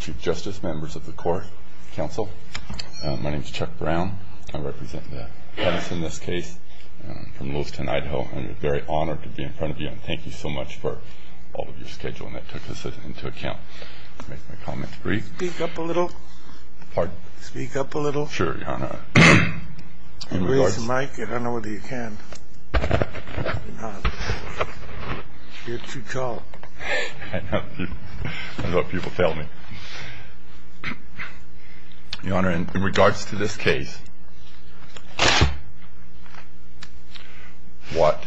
Chief Justice, Members of the Court, Counsel, my name is Chuck Brown. I represent Edison, in this case, from Lewiston, Idaho. I'm very honored to be in front of you, and thank you so much for all of your scheduling that took this into account. I'll make my comments brief. Speak up a little. Pardon? Speak up a little. Sure, Your Honor. Raise the mic, I don't know whether you can. You're too tall. I know people fail me. Your Honor, in regards to this case, what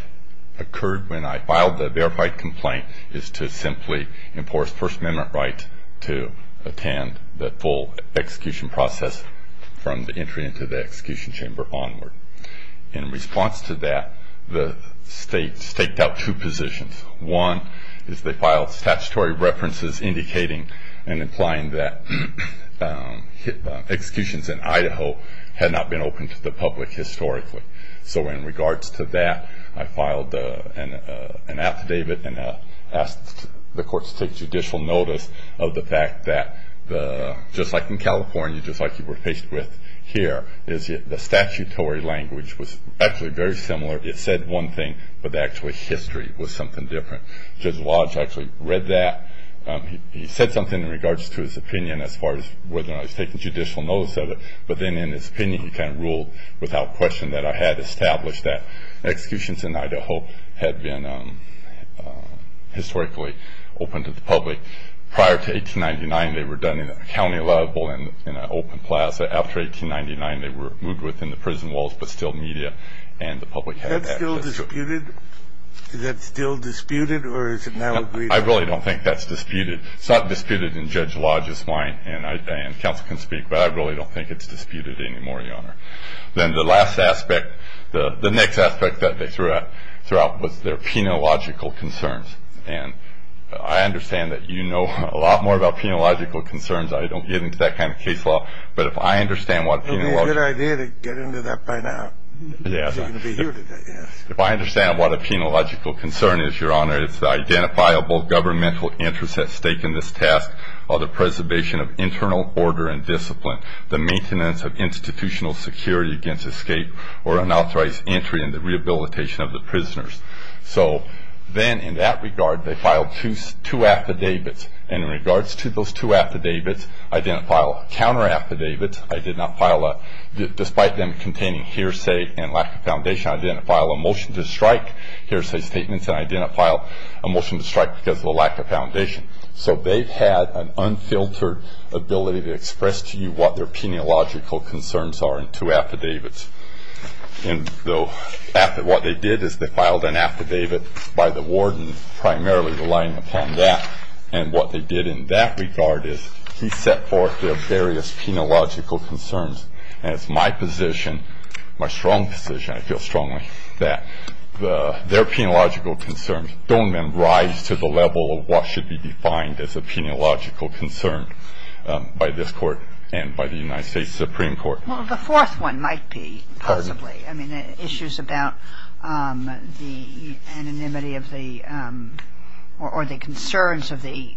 occurred when I filed the verified complaint is to simply enforce First Amendment right to attend the full execution process from the entry into the execution chamber onward. In response to that, the state staked out two positions. One is they filed statutory references indicating and implying that executions in Idaho had not been open to the public historically. So in regards to that, I filed an affidavit and asked the court to take judicial notice of the fact that, just like in California, just like you were faced with here, the statutory language was actually very similar. It said one thing, but actually history was something different. Judge Walsh actually read that. He said something in regards to his opinion as far as whether or not he was taking judicial notice of it, but then in his opinion he kind of ruled without question that I had established that executions in Idaho had been historically open to the public. Prior to 1899, they were done in a county level in an open plaza. After 1899, they were moved within the prison walls, but still media and the public had access to them. Is that still disputed, or is it now agreed upon? I really don't think that's disputed. It's not disputed in Judge Lodge's mind, and counsel can speak, but I really don't think it's disputed anymore, Your Honor. Then the last aspect, the next aspect that they threw out was their penological concerns, and I understand that you know a lot more about penological concerns. I don't get into that kind of case law, but if I understand what penological concerns are. It would be a good idea to get into that by now. Yes. If I understand what a penological concern is, Your Honor, it's the identifiable governmental interest at stake in this task, or the preservation of internal order and discipline, the maintenance of institutional security against escape or unauthorized entry in the rehabilitation of the prisoners. So then in that regard, they filed two affidavits. In regards to those two affidavits, I didn't file a counter affidavit. I did not file a, despite them containing hearsay and lack of foundation, I didn't file a motion to strike, hearsay statements, and I didn't file a motion to strike because of a lack of foundation. So they've had an unfiltered ability to express to you what their penological concerns are in two affidavits. What they did is they filed an affidavit by the warden, primarily relying upon that, and what they did in that regard is he set forth their various penological concerns, and it's my position, my strong position, I feel strongly, that their penological concerns don't then rise to the level of what should be defined as a penological concern by this Court and by the United States Supreme Court. Well, the fourth one might be, possibly. Pardon? I mean, issues about the anonymity of the, or the concerns of the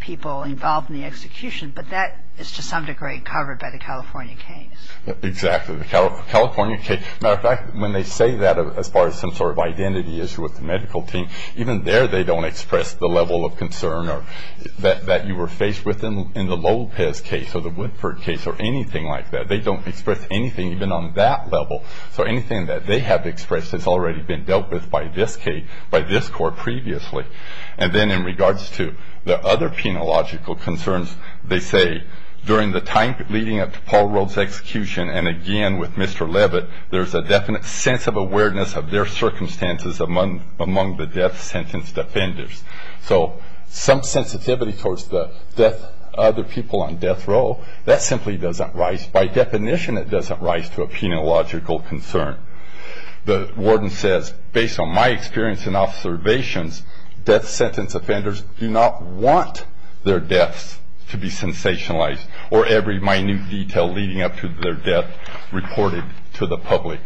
people involved in the execution, but that is to some degree covered by the California case. Exactly, the California case. As a matter of fact, when they say that as far as some sort of identity issue with the medical team, even there they don't express the level of concern that you were faced with in the Lopez case or the Woodford case or anything like that. They don't express anything even on that level. So anything that they have expressed has already been dealt with by this case, by this Court previously. And then in regards to the other penological concerns, they say, during the time leading up to Paul Rove's execution, and again with Mr. Levitt, there's a definite sense of awareness of their circumstances among the death sentence defenders. So some sensitivity towards the death, other people on death row, that simply doesn't rise. By definition, it doesn't rise to a penological concern. The warden says, based on my experience and observations, death sentence offenders do not want their deaths to be sensationalized or every minute detail leading up to their death reported to the public.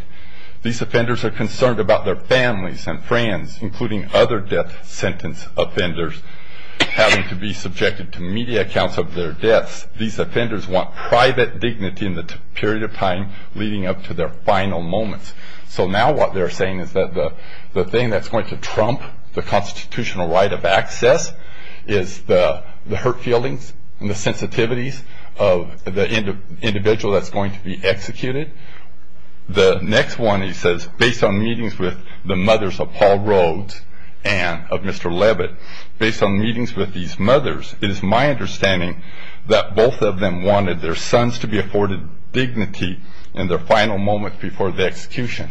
These offenders are concerned about their families and friends, including other death sentence offenders, having to be subjected to media accounts of their deaths. These offenders want private dignity in the period of time leading up to their final moments. So now what they're saying is that the thing that's going to trump the constitutional right of access is the hurt feelings and the sensitivities of the individual that's going to be executed. The next one, he says, based on meetings with the mothers of Paul Rove and of Mr. Levitt, based on meetings with these mothers, it is my understanding that both of them wanted their sons to be afforded dignity in their final moments before the execution.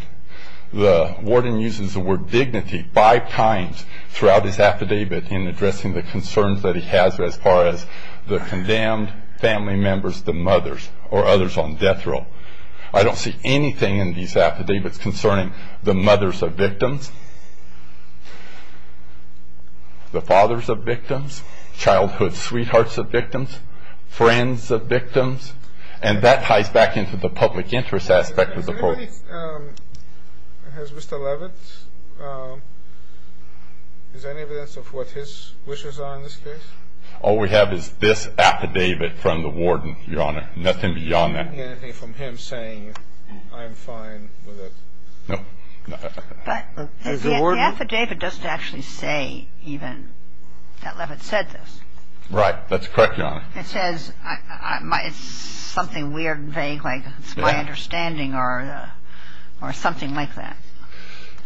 The warden uses the word dignity five times throughout his affidavit in addressing the concerns that he has as far as the condemned family members, the mothers, or others on death row. I don't see anything in these affidavits concerning the mothers of victims. The fathers of victims, childhood sweethearts of victims, friends of victims, and that ties back into the public interest aspect of the program. Has Mr. Levitt, is there any evidence of what his wishes are in this case? All we have is this affidavit from the warden, Your Honor, nothing beyond that. You don't get anything from him saying, I'm fine with it? No. But the affidavit doesn't actually say even that Levitt said this. Right. That's correct, Your Honor. It says it's something weird and vague like it's my understanding or something like that.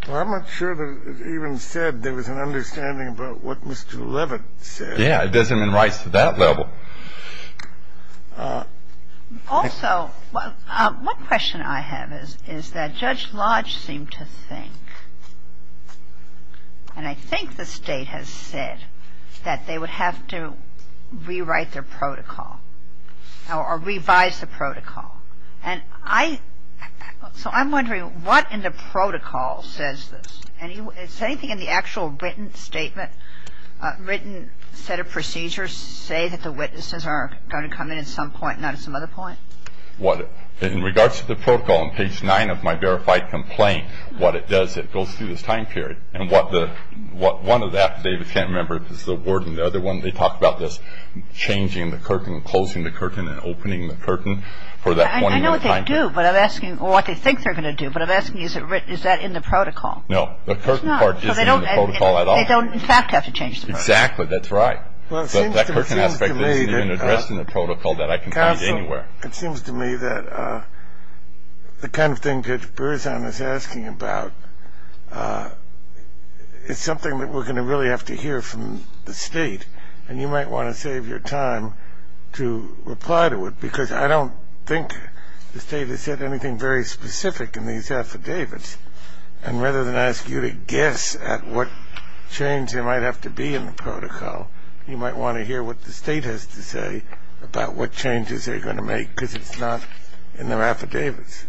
Well, I'm not sure that it even said there was an understanding about what Mr. Levitt said. Yeah, it doesn't even rise to that level. Also, one question I have is that Judge Lodge seemed to think, and I think the State has said that they would have to rewrite their protocol or revise the protocol. And I, so I'm wondering what in the protocol says this? Well, I don't have the data on the protocol for that. It doesn't refer to anything in the actual written statement. Written set of procedures say that the witnesses are going to come in at some point, not at some other point? Well, in regards to the protocol, in page 9 of my verified complaint, what it does is it goes through this time period. And what the one affidavit, I can't remember if it's the warden, the other one, they talk about this changing the curtain, closing the curtain and opening the curtain for that 20-minute time period. I know what they do, but I'm asking, or what they think they're going to do, but I'm asking is that in the protocol? No, the curtain part isn't in the protocol at all. So they don't in fact have to change the protocol? Exactly, that's right. But that curtain aspect isn't even addressed in the protocol that I can find anywhere. Counsel, it seems to me that the kind of thing Judge Berzon is asking about is something that we're going to really have to hear from the State. And you might want to save your time to reply to it, because I don't think the State has said anything very specific in these affidavits. And rather than ask you to guess at what change there might have to be in the protocol, you might want to hear what the State has to say about what changes they're going to make, because it's not in their affidavits.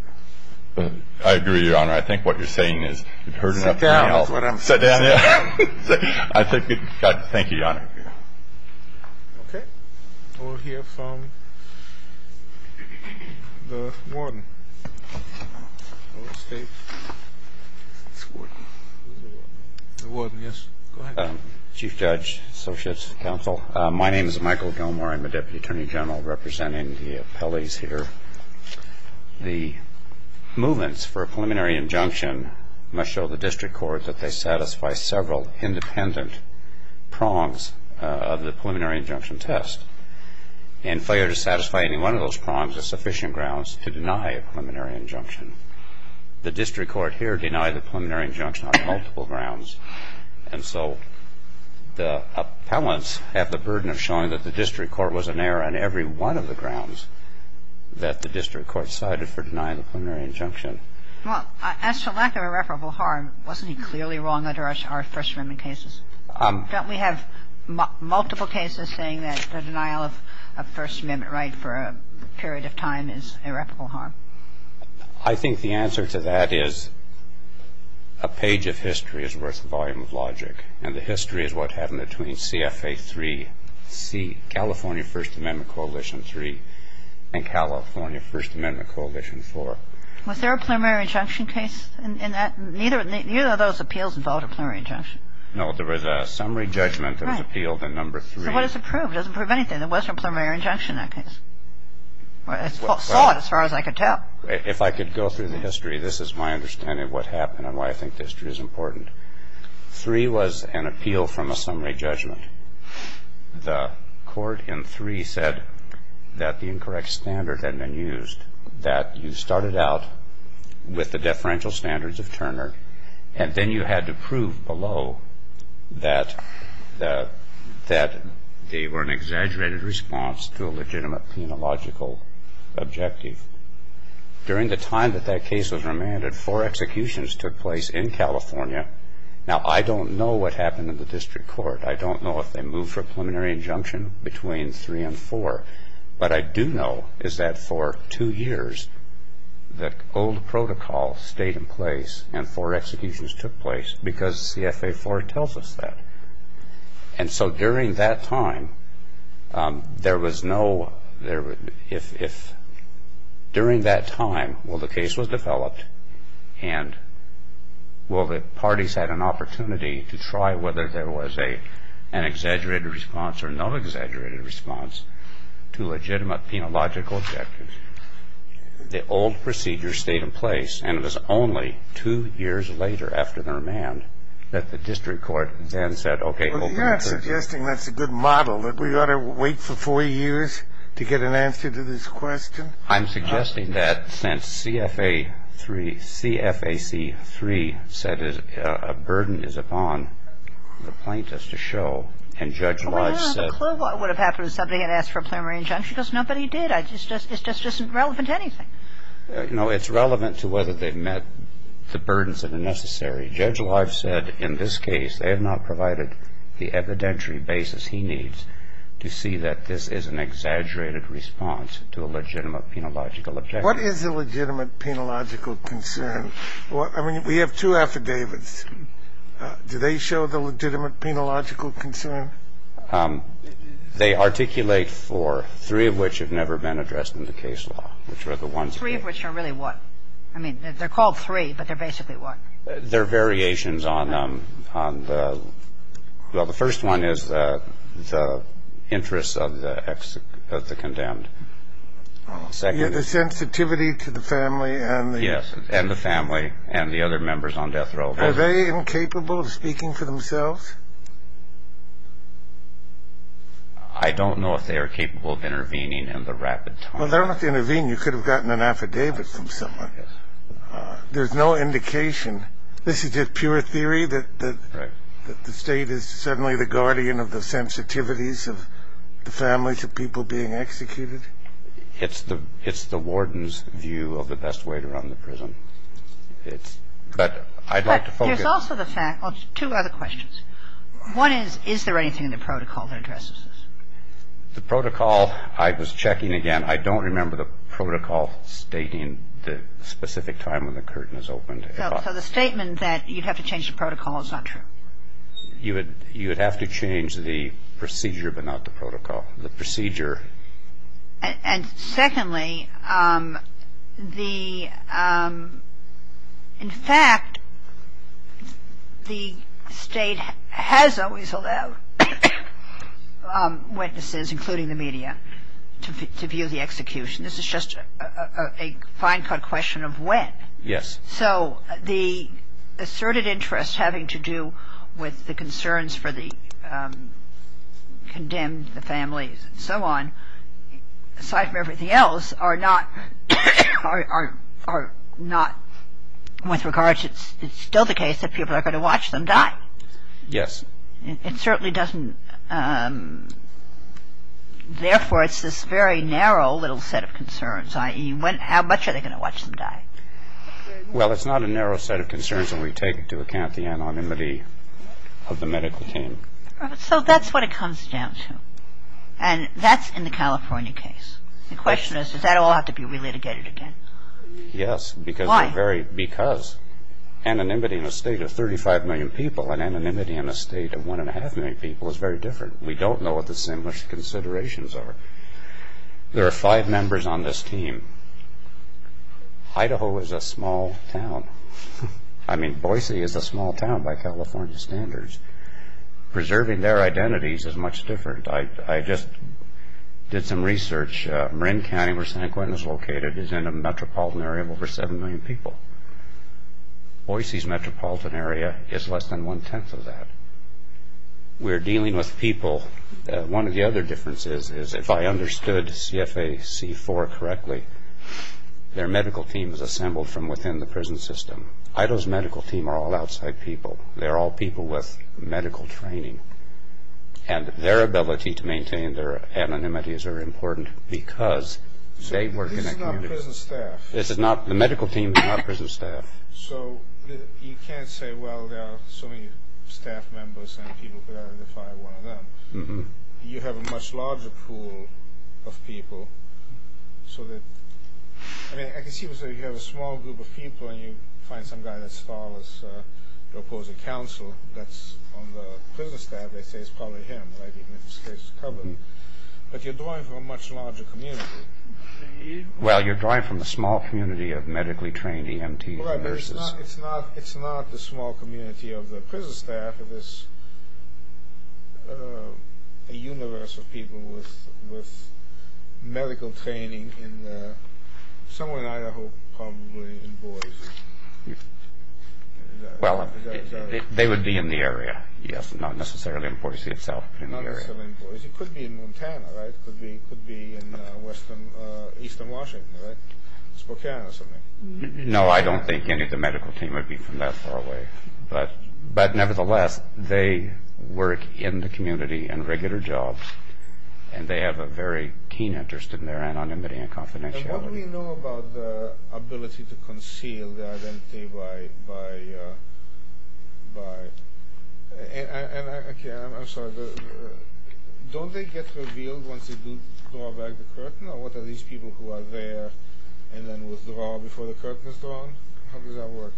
I agree, Your Honor. I think what you're saying is you've heard enough. Sit down is what I'm saying. Sit down. Thank you, Your Honor. Okay. We'll hear from the warden of the State. The warden, yes. Go ahead. Chief Judge, Associates, Counsel, my name is Michael Gilmore. I'm a Deputy Attorney General representing the appellees here. The movements for a preliminary injunction must show the district court that they satisfy several independent prongs of the preliminary injunction test. And if they are to satisfy any one of those prongs, there are sufficient grounds to deny a preliminary injunction. The district court here denied the preliminary injunction on multiple grounds. And so the appellants have the burden of showing that the district court was in error on every one of the grounds that the district court cited for denying the preliminary injunction. Well, as to lack of irreparable harm, wasn't he clearly wrong under our First Amendment cases? Don't we have multiple cases saying that the denial of a First Amendment right for a period of time is irreparable harm? I think the answer to that is a page of history is worth a volume of logic. And the history is what happened between CFA3, California First Amendment Coalition 3, and California First Amendment Coalition 4. Was there a preliminary injunction case in that? Neither of those appeals involved a preliminary injunction. No, there was a summary judgment that was appealed in number three. So what does it prove? It doesn't prove anything. There wasn't a preliminary injunction in that case. It's solid as far as I could tell. If I could go through the history, this is my understanding of what happened and why I think the history is important. Three was an appeal from a summary judgment. The court in three said that the incorrect standard had been used, that you started out with the deferential standards of Turner, and then you had to prove below that they were an exaggerated response to a legitimate penological objective. During the time that that case was remanded, four executions took place in California. Now, I don't know what happened in the district court. I don't know if they moved for a preliminary injunction between three and four. What I do know is that for two years the old protocol stayed in place and four executions took place because CFA4 tells us that. And so during that time, if during that time the case was developed and the parties had an opportunity to try whether there was an exaggerated response or no exaggerated response to legitimate penological objectives, the old procedure stayed in place, and it was only two years later after the remand that the district court then said, okay. Well, you're not suggesting that's a good model, that we ought to wait for four years to get an answer to this question? I'm suggesting that since CFA3 said a burden is upon the plaintiffs to show, and Judge Lodge said. Well, I don't have a clue what would have happened if somebody had asked for a preliminary injunction because nobody did. It's just irrelevant to anything. No, it's relevant to whether they met the burdens that are necessary. Judge Lodge said in this case they have not provided the evidentiary basis he needs to see that this is an exaggerated response to a legitimate penological objective. What is a legitimate penological concern? I mean, we have two affidavits. Do they show the legitimate penological concern? They articulate for three of which have never been addressed in the case law, which are the ones. Three of which are really what? I mean, they're called three, but they're basically what? They're variations on the, well, the first one is the interests of the condemned. The sensitivity to the family and the? Yes, and the family and the other members on death row. Are they incapable of speaking for themselves? I don't know if they are capable of intervening in the rapid time. Well, they don't have to intervene. You could have gotten an affidavit from someone. There's no indication. This is just pure theory that the State is certainly the guardian of the sensitivities of the family to people being executed? It's the warden's view of the best way to run the prison. But I'd like to focus. But there's also the fact of two other questions. One is, is there anything in the protocol that addresses this? The protocol, I was checking again. I don't remember the protocol stating the specific time when the curtain is opened. So the statement that you'd have to change the protocol is not true? You would have to change the procedure, but not the protocol. The procedure. And secondly, in fact, the State has always allowed witnesses, including the media, to view the execution. This is just a fine cut question of when. Yes. So the asserted interest having to do with the concerns for the condemned, the families, and so on, aside from everything else, are not, are not, with regards, it's still the case that people are going to watch them die. Yes. It certainly doesn't. Therefore, it's this very narrow little set of concerns, i.e., How much are they going to watch them die? Well, it's not a narrow set of concerns when we take into account the anonymity of the medical team. So that's what it comes down to. And that's in the California case. The question is, does that all have to be relitigated again? Yes. Why? Because anonymity in a State of 35 million people and anonymity in a State of 1.5 million people is very different. We don't know what the same considerations are. There are five members on this team. Idaho is a small town. I mean, Boise is a small town by California standards. Preserving their identities is much different. I just did some research. Marin County, where San Quentin is located, is in a metropolitan area of over 7 million people. Boise's metropolitan area is less than one-tenth of that. We're dealing with people. One of the other differences is if I understood CFA C-4 correctly, their medical team is assembled from within the prison system. Idaho's medical team are all outside people. They're all people with medical training. And their ability to maintain their anonymity is very important because they work in a community. So this is not prison staff? This is not. The medical team is not prison staff. So you can't say, well, there are so many staff members and people could identify one of them. You have a much larger pool of people. I mean, I can see you have a small group of people, and you find some guy that's as tall as your opposing counsel that's on the prison staff. They say it's probably him, right, even if his face is covered. But you're drawing from a much larger community. Well, you're drawing from a small community of medically trained EMT nurses. It's not the small community of the prison staff. It is a universe of people with medical training in somewhere in Idaho, probably in Boise. Well, they would be in the area, yes, not necessarily in Boise itself. Not necessarily in Boise. It could be in Montana, right? It could be in eastern Washington, right? Spokane or something. No, I don't think any of the medical team would be from that far away. But nevertheless, they work in the community in regular jobs, and they have a very keen interest in their anonymity and confidentiality. And what do we know about the ability to conceal the identity by – Okay, I'm sorry. Don't they get revealed once they draw back the curtain, or what are these people who are there and then withdraw before the curtain is drawn? How does that work?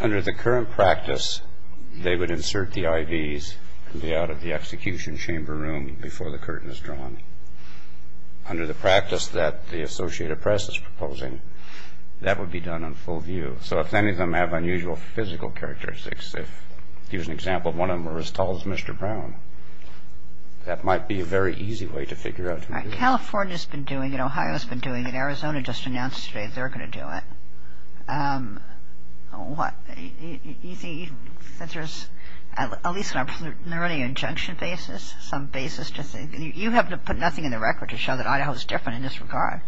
Under the current practice, they would insert the IDs out of the execution chamber room before the curtain is drawn. Under the practice that the Associated Press is proposing, that would be done on full view. So if any of them have unusual physical characteristics, if, to use an example, one of them were as tall as Mr. Brown, that might be a very easy way to figure out who did it. Right. California's been doing it. Ohio's been doing it. Arizona just announced today they're going to do it. What? You think that there's – at least on an early injunction basis, some basis to say – you have to put nothing in the record to show that Idaho's different in this regard.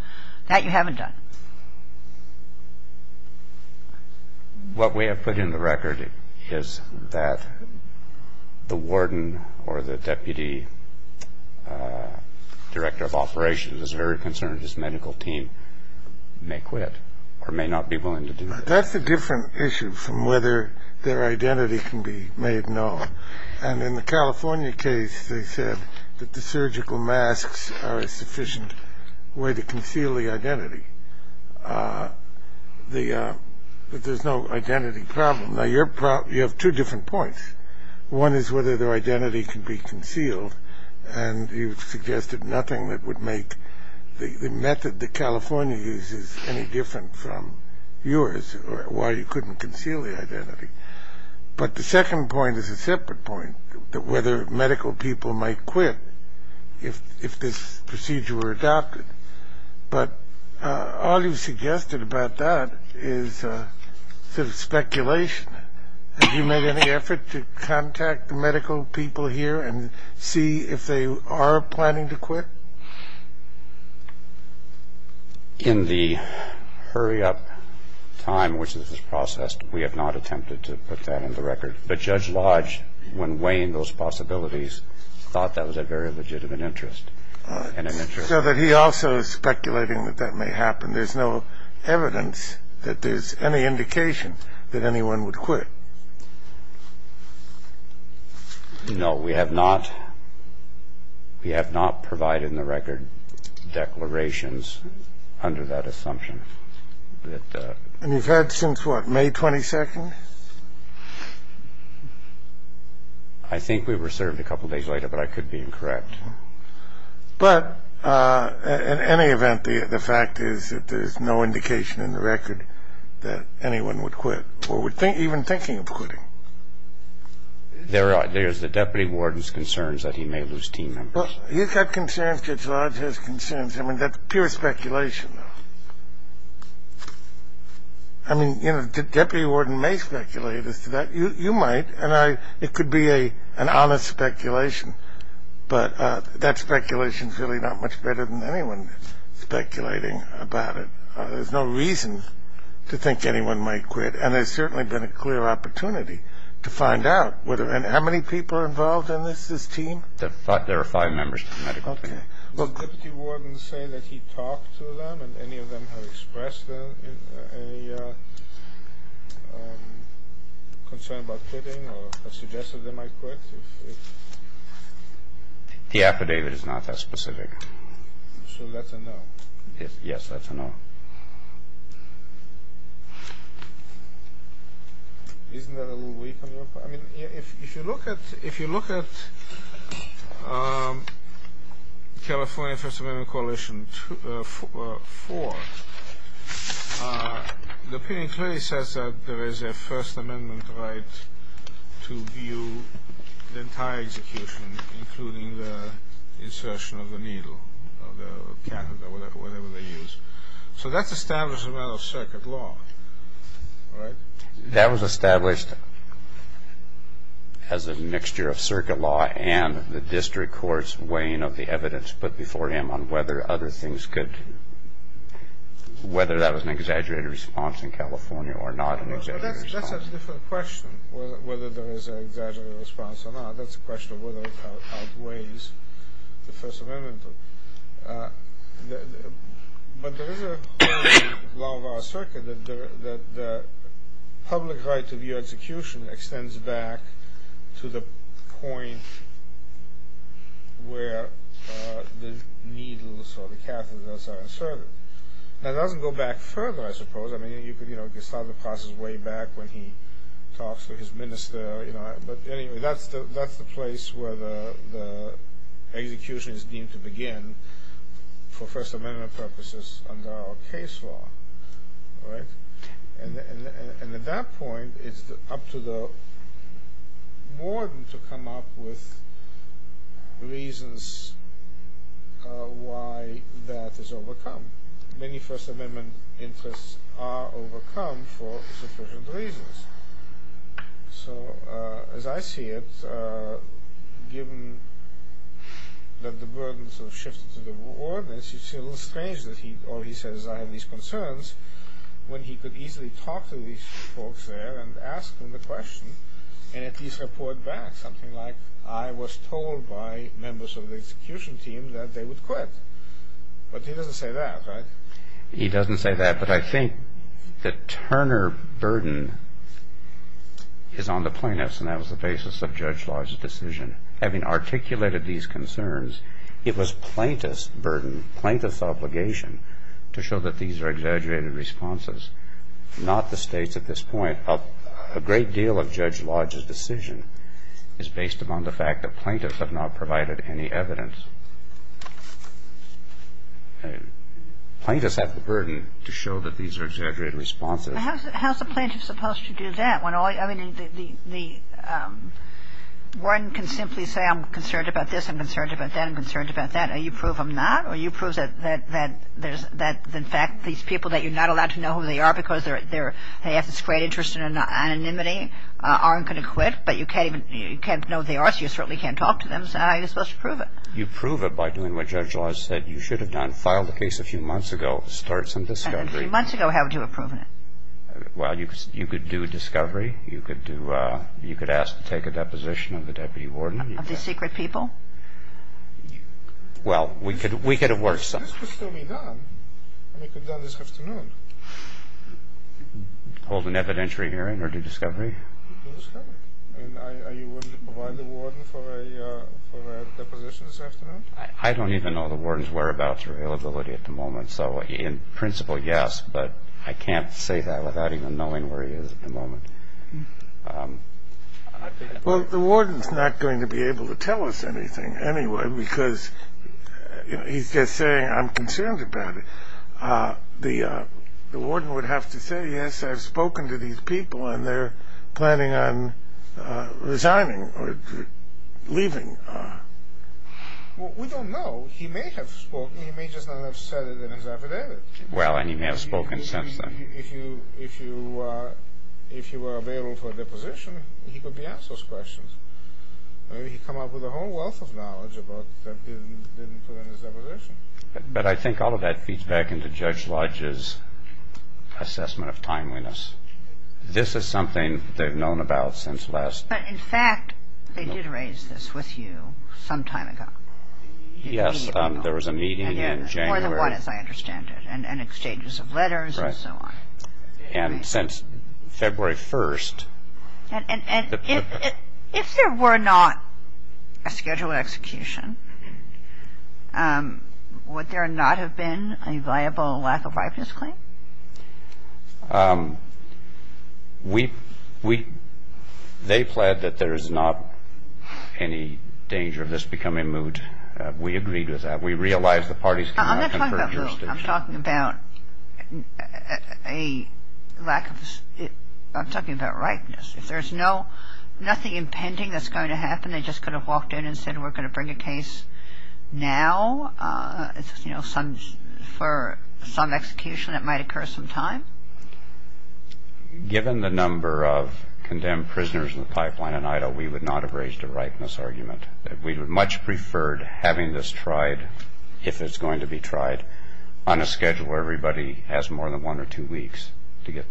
That you haven't done. What we have put in the record is that the warden or the deputy director of operations is very concerned his medical team may quit or may not be willing to do this. That's a different issue from whether their identity can be made known. And in the California case, they said that the surgical masks are a sufficient way to conceal the identity. But there's no identity problem. Now, you have two different points. One is whether their identity can be concealed, and you've suggested nothing that would make the method that California uses any different from yours, or why you couldn't conceal the identity. But the second point is a separate point, whether medical people might quit if this procedure were adopted. But all you've suggested about that is sort of speculation. Have you made any effort to contact the medical people here and see if they are planning to quit? In the hurry-up time which this is processed, we have not attempted to put that in the record. But Judge Lodge, when weighing those possibilities, thought that was a very legitimate interest. So that he also is speculating that that may happen. There's no evidence that there's any indication that anyone would quit. No. We have not provided in the record declarations under that assumption. And you've had since what, May 22nd? I think we were served a couple days later, but I could be incorrect. But in any event, the fact is that there's no indication in the record that anyone would quit, or even thinking of quitting. There's the deputy warden's concerns that he may lose team members. He's got concerns, Judge Lodge has concerns. I mean, that's pure speculation. I mean, you know, the deputy warden may speculate as to that. You might, and it could be an honest speculation. But that speculation is really not much better than anyone speculating about it. There's no reason to think anyone might quit. And there's certainly been a clear opportunity to find out. And how many people are involved in this, this team? There are five members of the medical team. Okay. Does the deputy warden say that he talked to them and any of them have expressed a concern about quitting or suggested they might quit? The affidavit is not that specific. So that's a no. Yes, that's a no. Isn't that a little weak on your part? I mean, if you look at California First Amendment Coalition 4, the opinion clearly says that there is a First Amendment right to view the entire execution, including the insertion of the needle, of the catheter, whatever they use. So that's established as a matter of circuit law, right? That was established as a mixture of circuit law and the district court's weighing of the evidence put before him on whether other things could – whether that was an exaggerated response in California or not an exaggerated response. That's a different question, whether there was an exaggerated response or not. That's a question of whether it outweighs the First Amendment. But there is a law of our circuit that the public right to view execution extends back to the point where the needles or the catheters are inserted. That doesn't go back further, I suppose. I mean, you could start the process way back when he talks to his minister. But anyway, that's the place where the execution is deemed to begin for First Amendment purposes under our case law, right? And at that point, it's up to the warden to come up with reasons why that is overcome. Many First Amendment interests are overcome for sufficient reasons. So as I see it, given that the burdens have shifted to the warden, it's a little strange that all he says is, I have these concerns, when he could easily talk to these folks there and ask them the question and at least report back something like, I was told by members of the execution team that they would quit. But he doesn't say that, right? He doesn't say that. But I think the Turner burden is on the plaintiffs, and that was the basis of Judge Lodge's decision. Having articulated these concerns, it was plaintiff's burden, plaintiff's obligation to show that these are exaggerated responses, not the State's at this point. A great deal of Judge Lodge's decision is based upon the fact that plaintiffs have not provided any evidence. Plaintiffs have the burden to show that these are exaggerated responses. How is the plaintiff supposed to do that? I mean, the warden can simply say, I'm concerned about this, I'm concerned about that, I'm concerned about that, and you prove them not, or you prove that, in fact, these people that you're not allowed to know who they are because they have this great interest in anonymity aren't going to quit, but you can't know who they are, so you certainly can't talk to them. So how are you supposed to prove it? You prove it by doing what Judge Lodge said you should have done. File the case a few months ago, start some discovery. And a few months ago, how would you have proven it? Well, you could do a discovery. You could ask to take a deposition of the deputy warden. Of the secret people? Well, we could have worked some. This could still be done. I mean, it could be done this afternoon. Hold an evidentiary hearing or do discovery? Do discovery. Are you willing to provide the warden for a deposition this afternoon? I don't even know the warden's whereabouts or availability at the moment, so in principle, yes, but I can't say that without even knowing where he is at the moment. Well, the warden's not going to be able to tell us anything anyway because he's just saying, I'm concerned about it. The warden would have to say, yes, I've spoken to these people and they're planning on resigning or leaving. Well, we don't know. He may have spoken. He may just not have said it in his affidavit. Well, and he may have spoken since then. If you were available for a deposition, he could be asked those questions. Maybe he'd come up with a whole wealth of knowledge that he didn't put in his deposition. But I think all of that feeds back into Judge Lodge's assessment of timeliness. This is something they've known about since last. But, in fact, they did raise this with you some time ago. Yes, there was a meeting in January. More than one, as I understand it, and exchanges of letters and so on. Right. And since February 1st. And if there were not a scheduled execution, would there not have been a viable lack-of-ripeness claim? We – they pled that there is not any danger of this becoming moot. We agreed with that. We realized the parties cannot confer jurisdiction. I'm not talking about moot. I'm talking about a lack of – I'm talking about ripeness. If there's no – nothing impending that's going to happen, they just could have walked in and said, we're going to bring a case now. You know, for some execution, it might occur sometime. Given the number of condemned prisoners in the pipeline in Idaho, we would not have raised a ripeness argument. We would have much preferred having this tried, if it's going to be tried, on a schedule where everybody has more than one or two weeks to get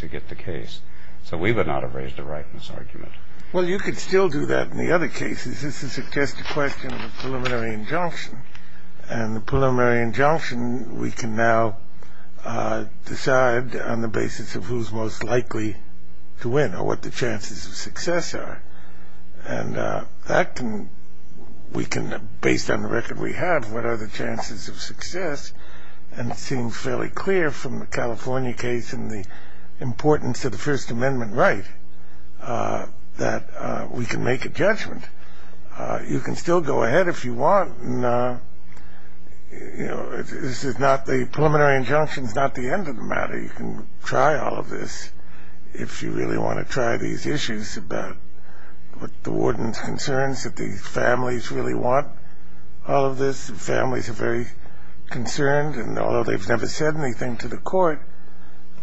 the case. So we would not have raised a ripeness argument. Well, you could still do that in the other cases. This is just a question of a preliminary injunction. And the preliminary injunction we can now decide on the basis of who's most likely to win or what the chances of success are. And that can – we can, based on the record we have, what are the chances of success. And it seems fairly clear from the California case and the importance of the First Amendment right that we can make a judgment. You can still go ahead if you want. And, you know, this is not – the preliminary injunction is not the end of the matter. You can try all of this if you really want to try these issues about what the warden's concerns, that the families really want all of this. The families are very concerned. And although they've never said anything to the court,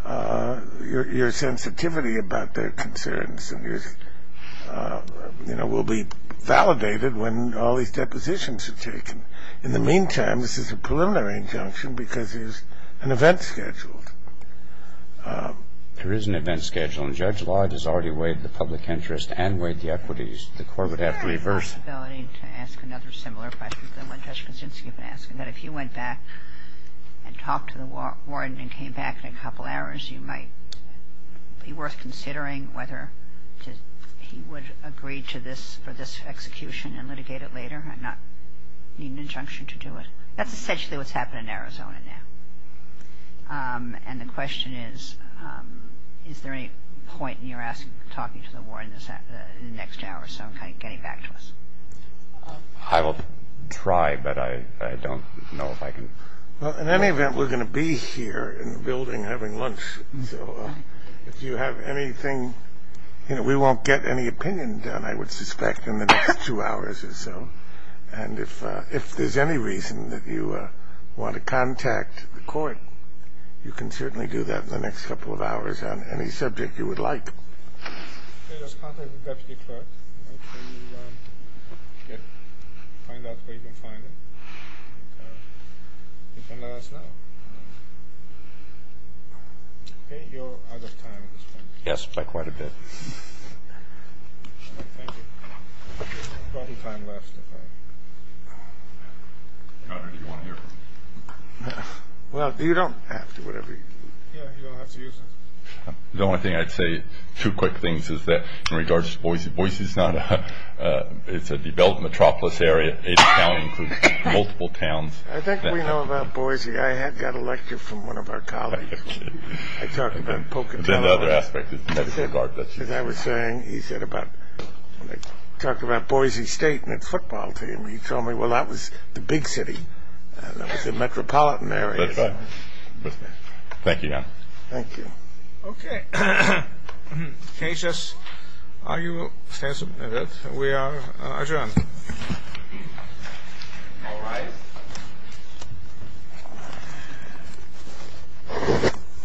your sensitivity about their concerns, you know, will be validated when all these depositions are taken. In the meantime, this is a preliminary injunction because there's an event scheduled. There is an event scheduled. And Judge Lodge has already waived the public interest and waived the equities. The court would have to reverse. I have the possibility to ask another similar question to the one Judge Kaczynski has been asking, that if you went back and talked to the warden and came back in a couple hours, you might be worth considering whether he would agree to this for this execution and litigate it later and not need an injunction to do it. That's essentially what's happened in Arizona now. And the question is, is there any point in your talking to the warden in the next hour or so in getting back to us? I will try, but I don't know if I can. Well, in any event, we're going to be here in the building having lunch. So if you have anything, you know, we won't get any opinion done, I would suspect, in the next two hours or so. And if there's any reason that you want to contact the court, you can certainly do that in the next couple of hours on any subject you would like. Just contact the deputy clerk and find out where you can find him. You can let us know. Okay, you're out of time at this point. Yes, by quite a bit. Thank you. We've got a little time left. Governor, do you want to hear from him? Well, you don't have to, whatever you do. Yeah, you don't have to use it. The only thing I'd say, two quick things, is that in regards to Boise, Boise is not a, it's a developed metropolis area. Ada County includes multiple towns. I think we know about Boise. I had got a lecture from one of our colleagues. I'm kidding. I talked about Pocono. As I was saying, he said about, talked about Boise State and its football team. He told me, well, that was the big city. That was a metropolitan area. That's right. Thank you, Governor. Thank you. Okay. Can I just argue a stance a minute? We are adjourned. All rise.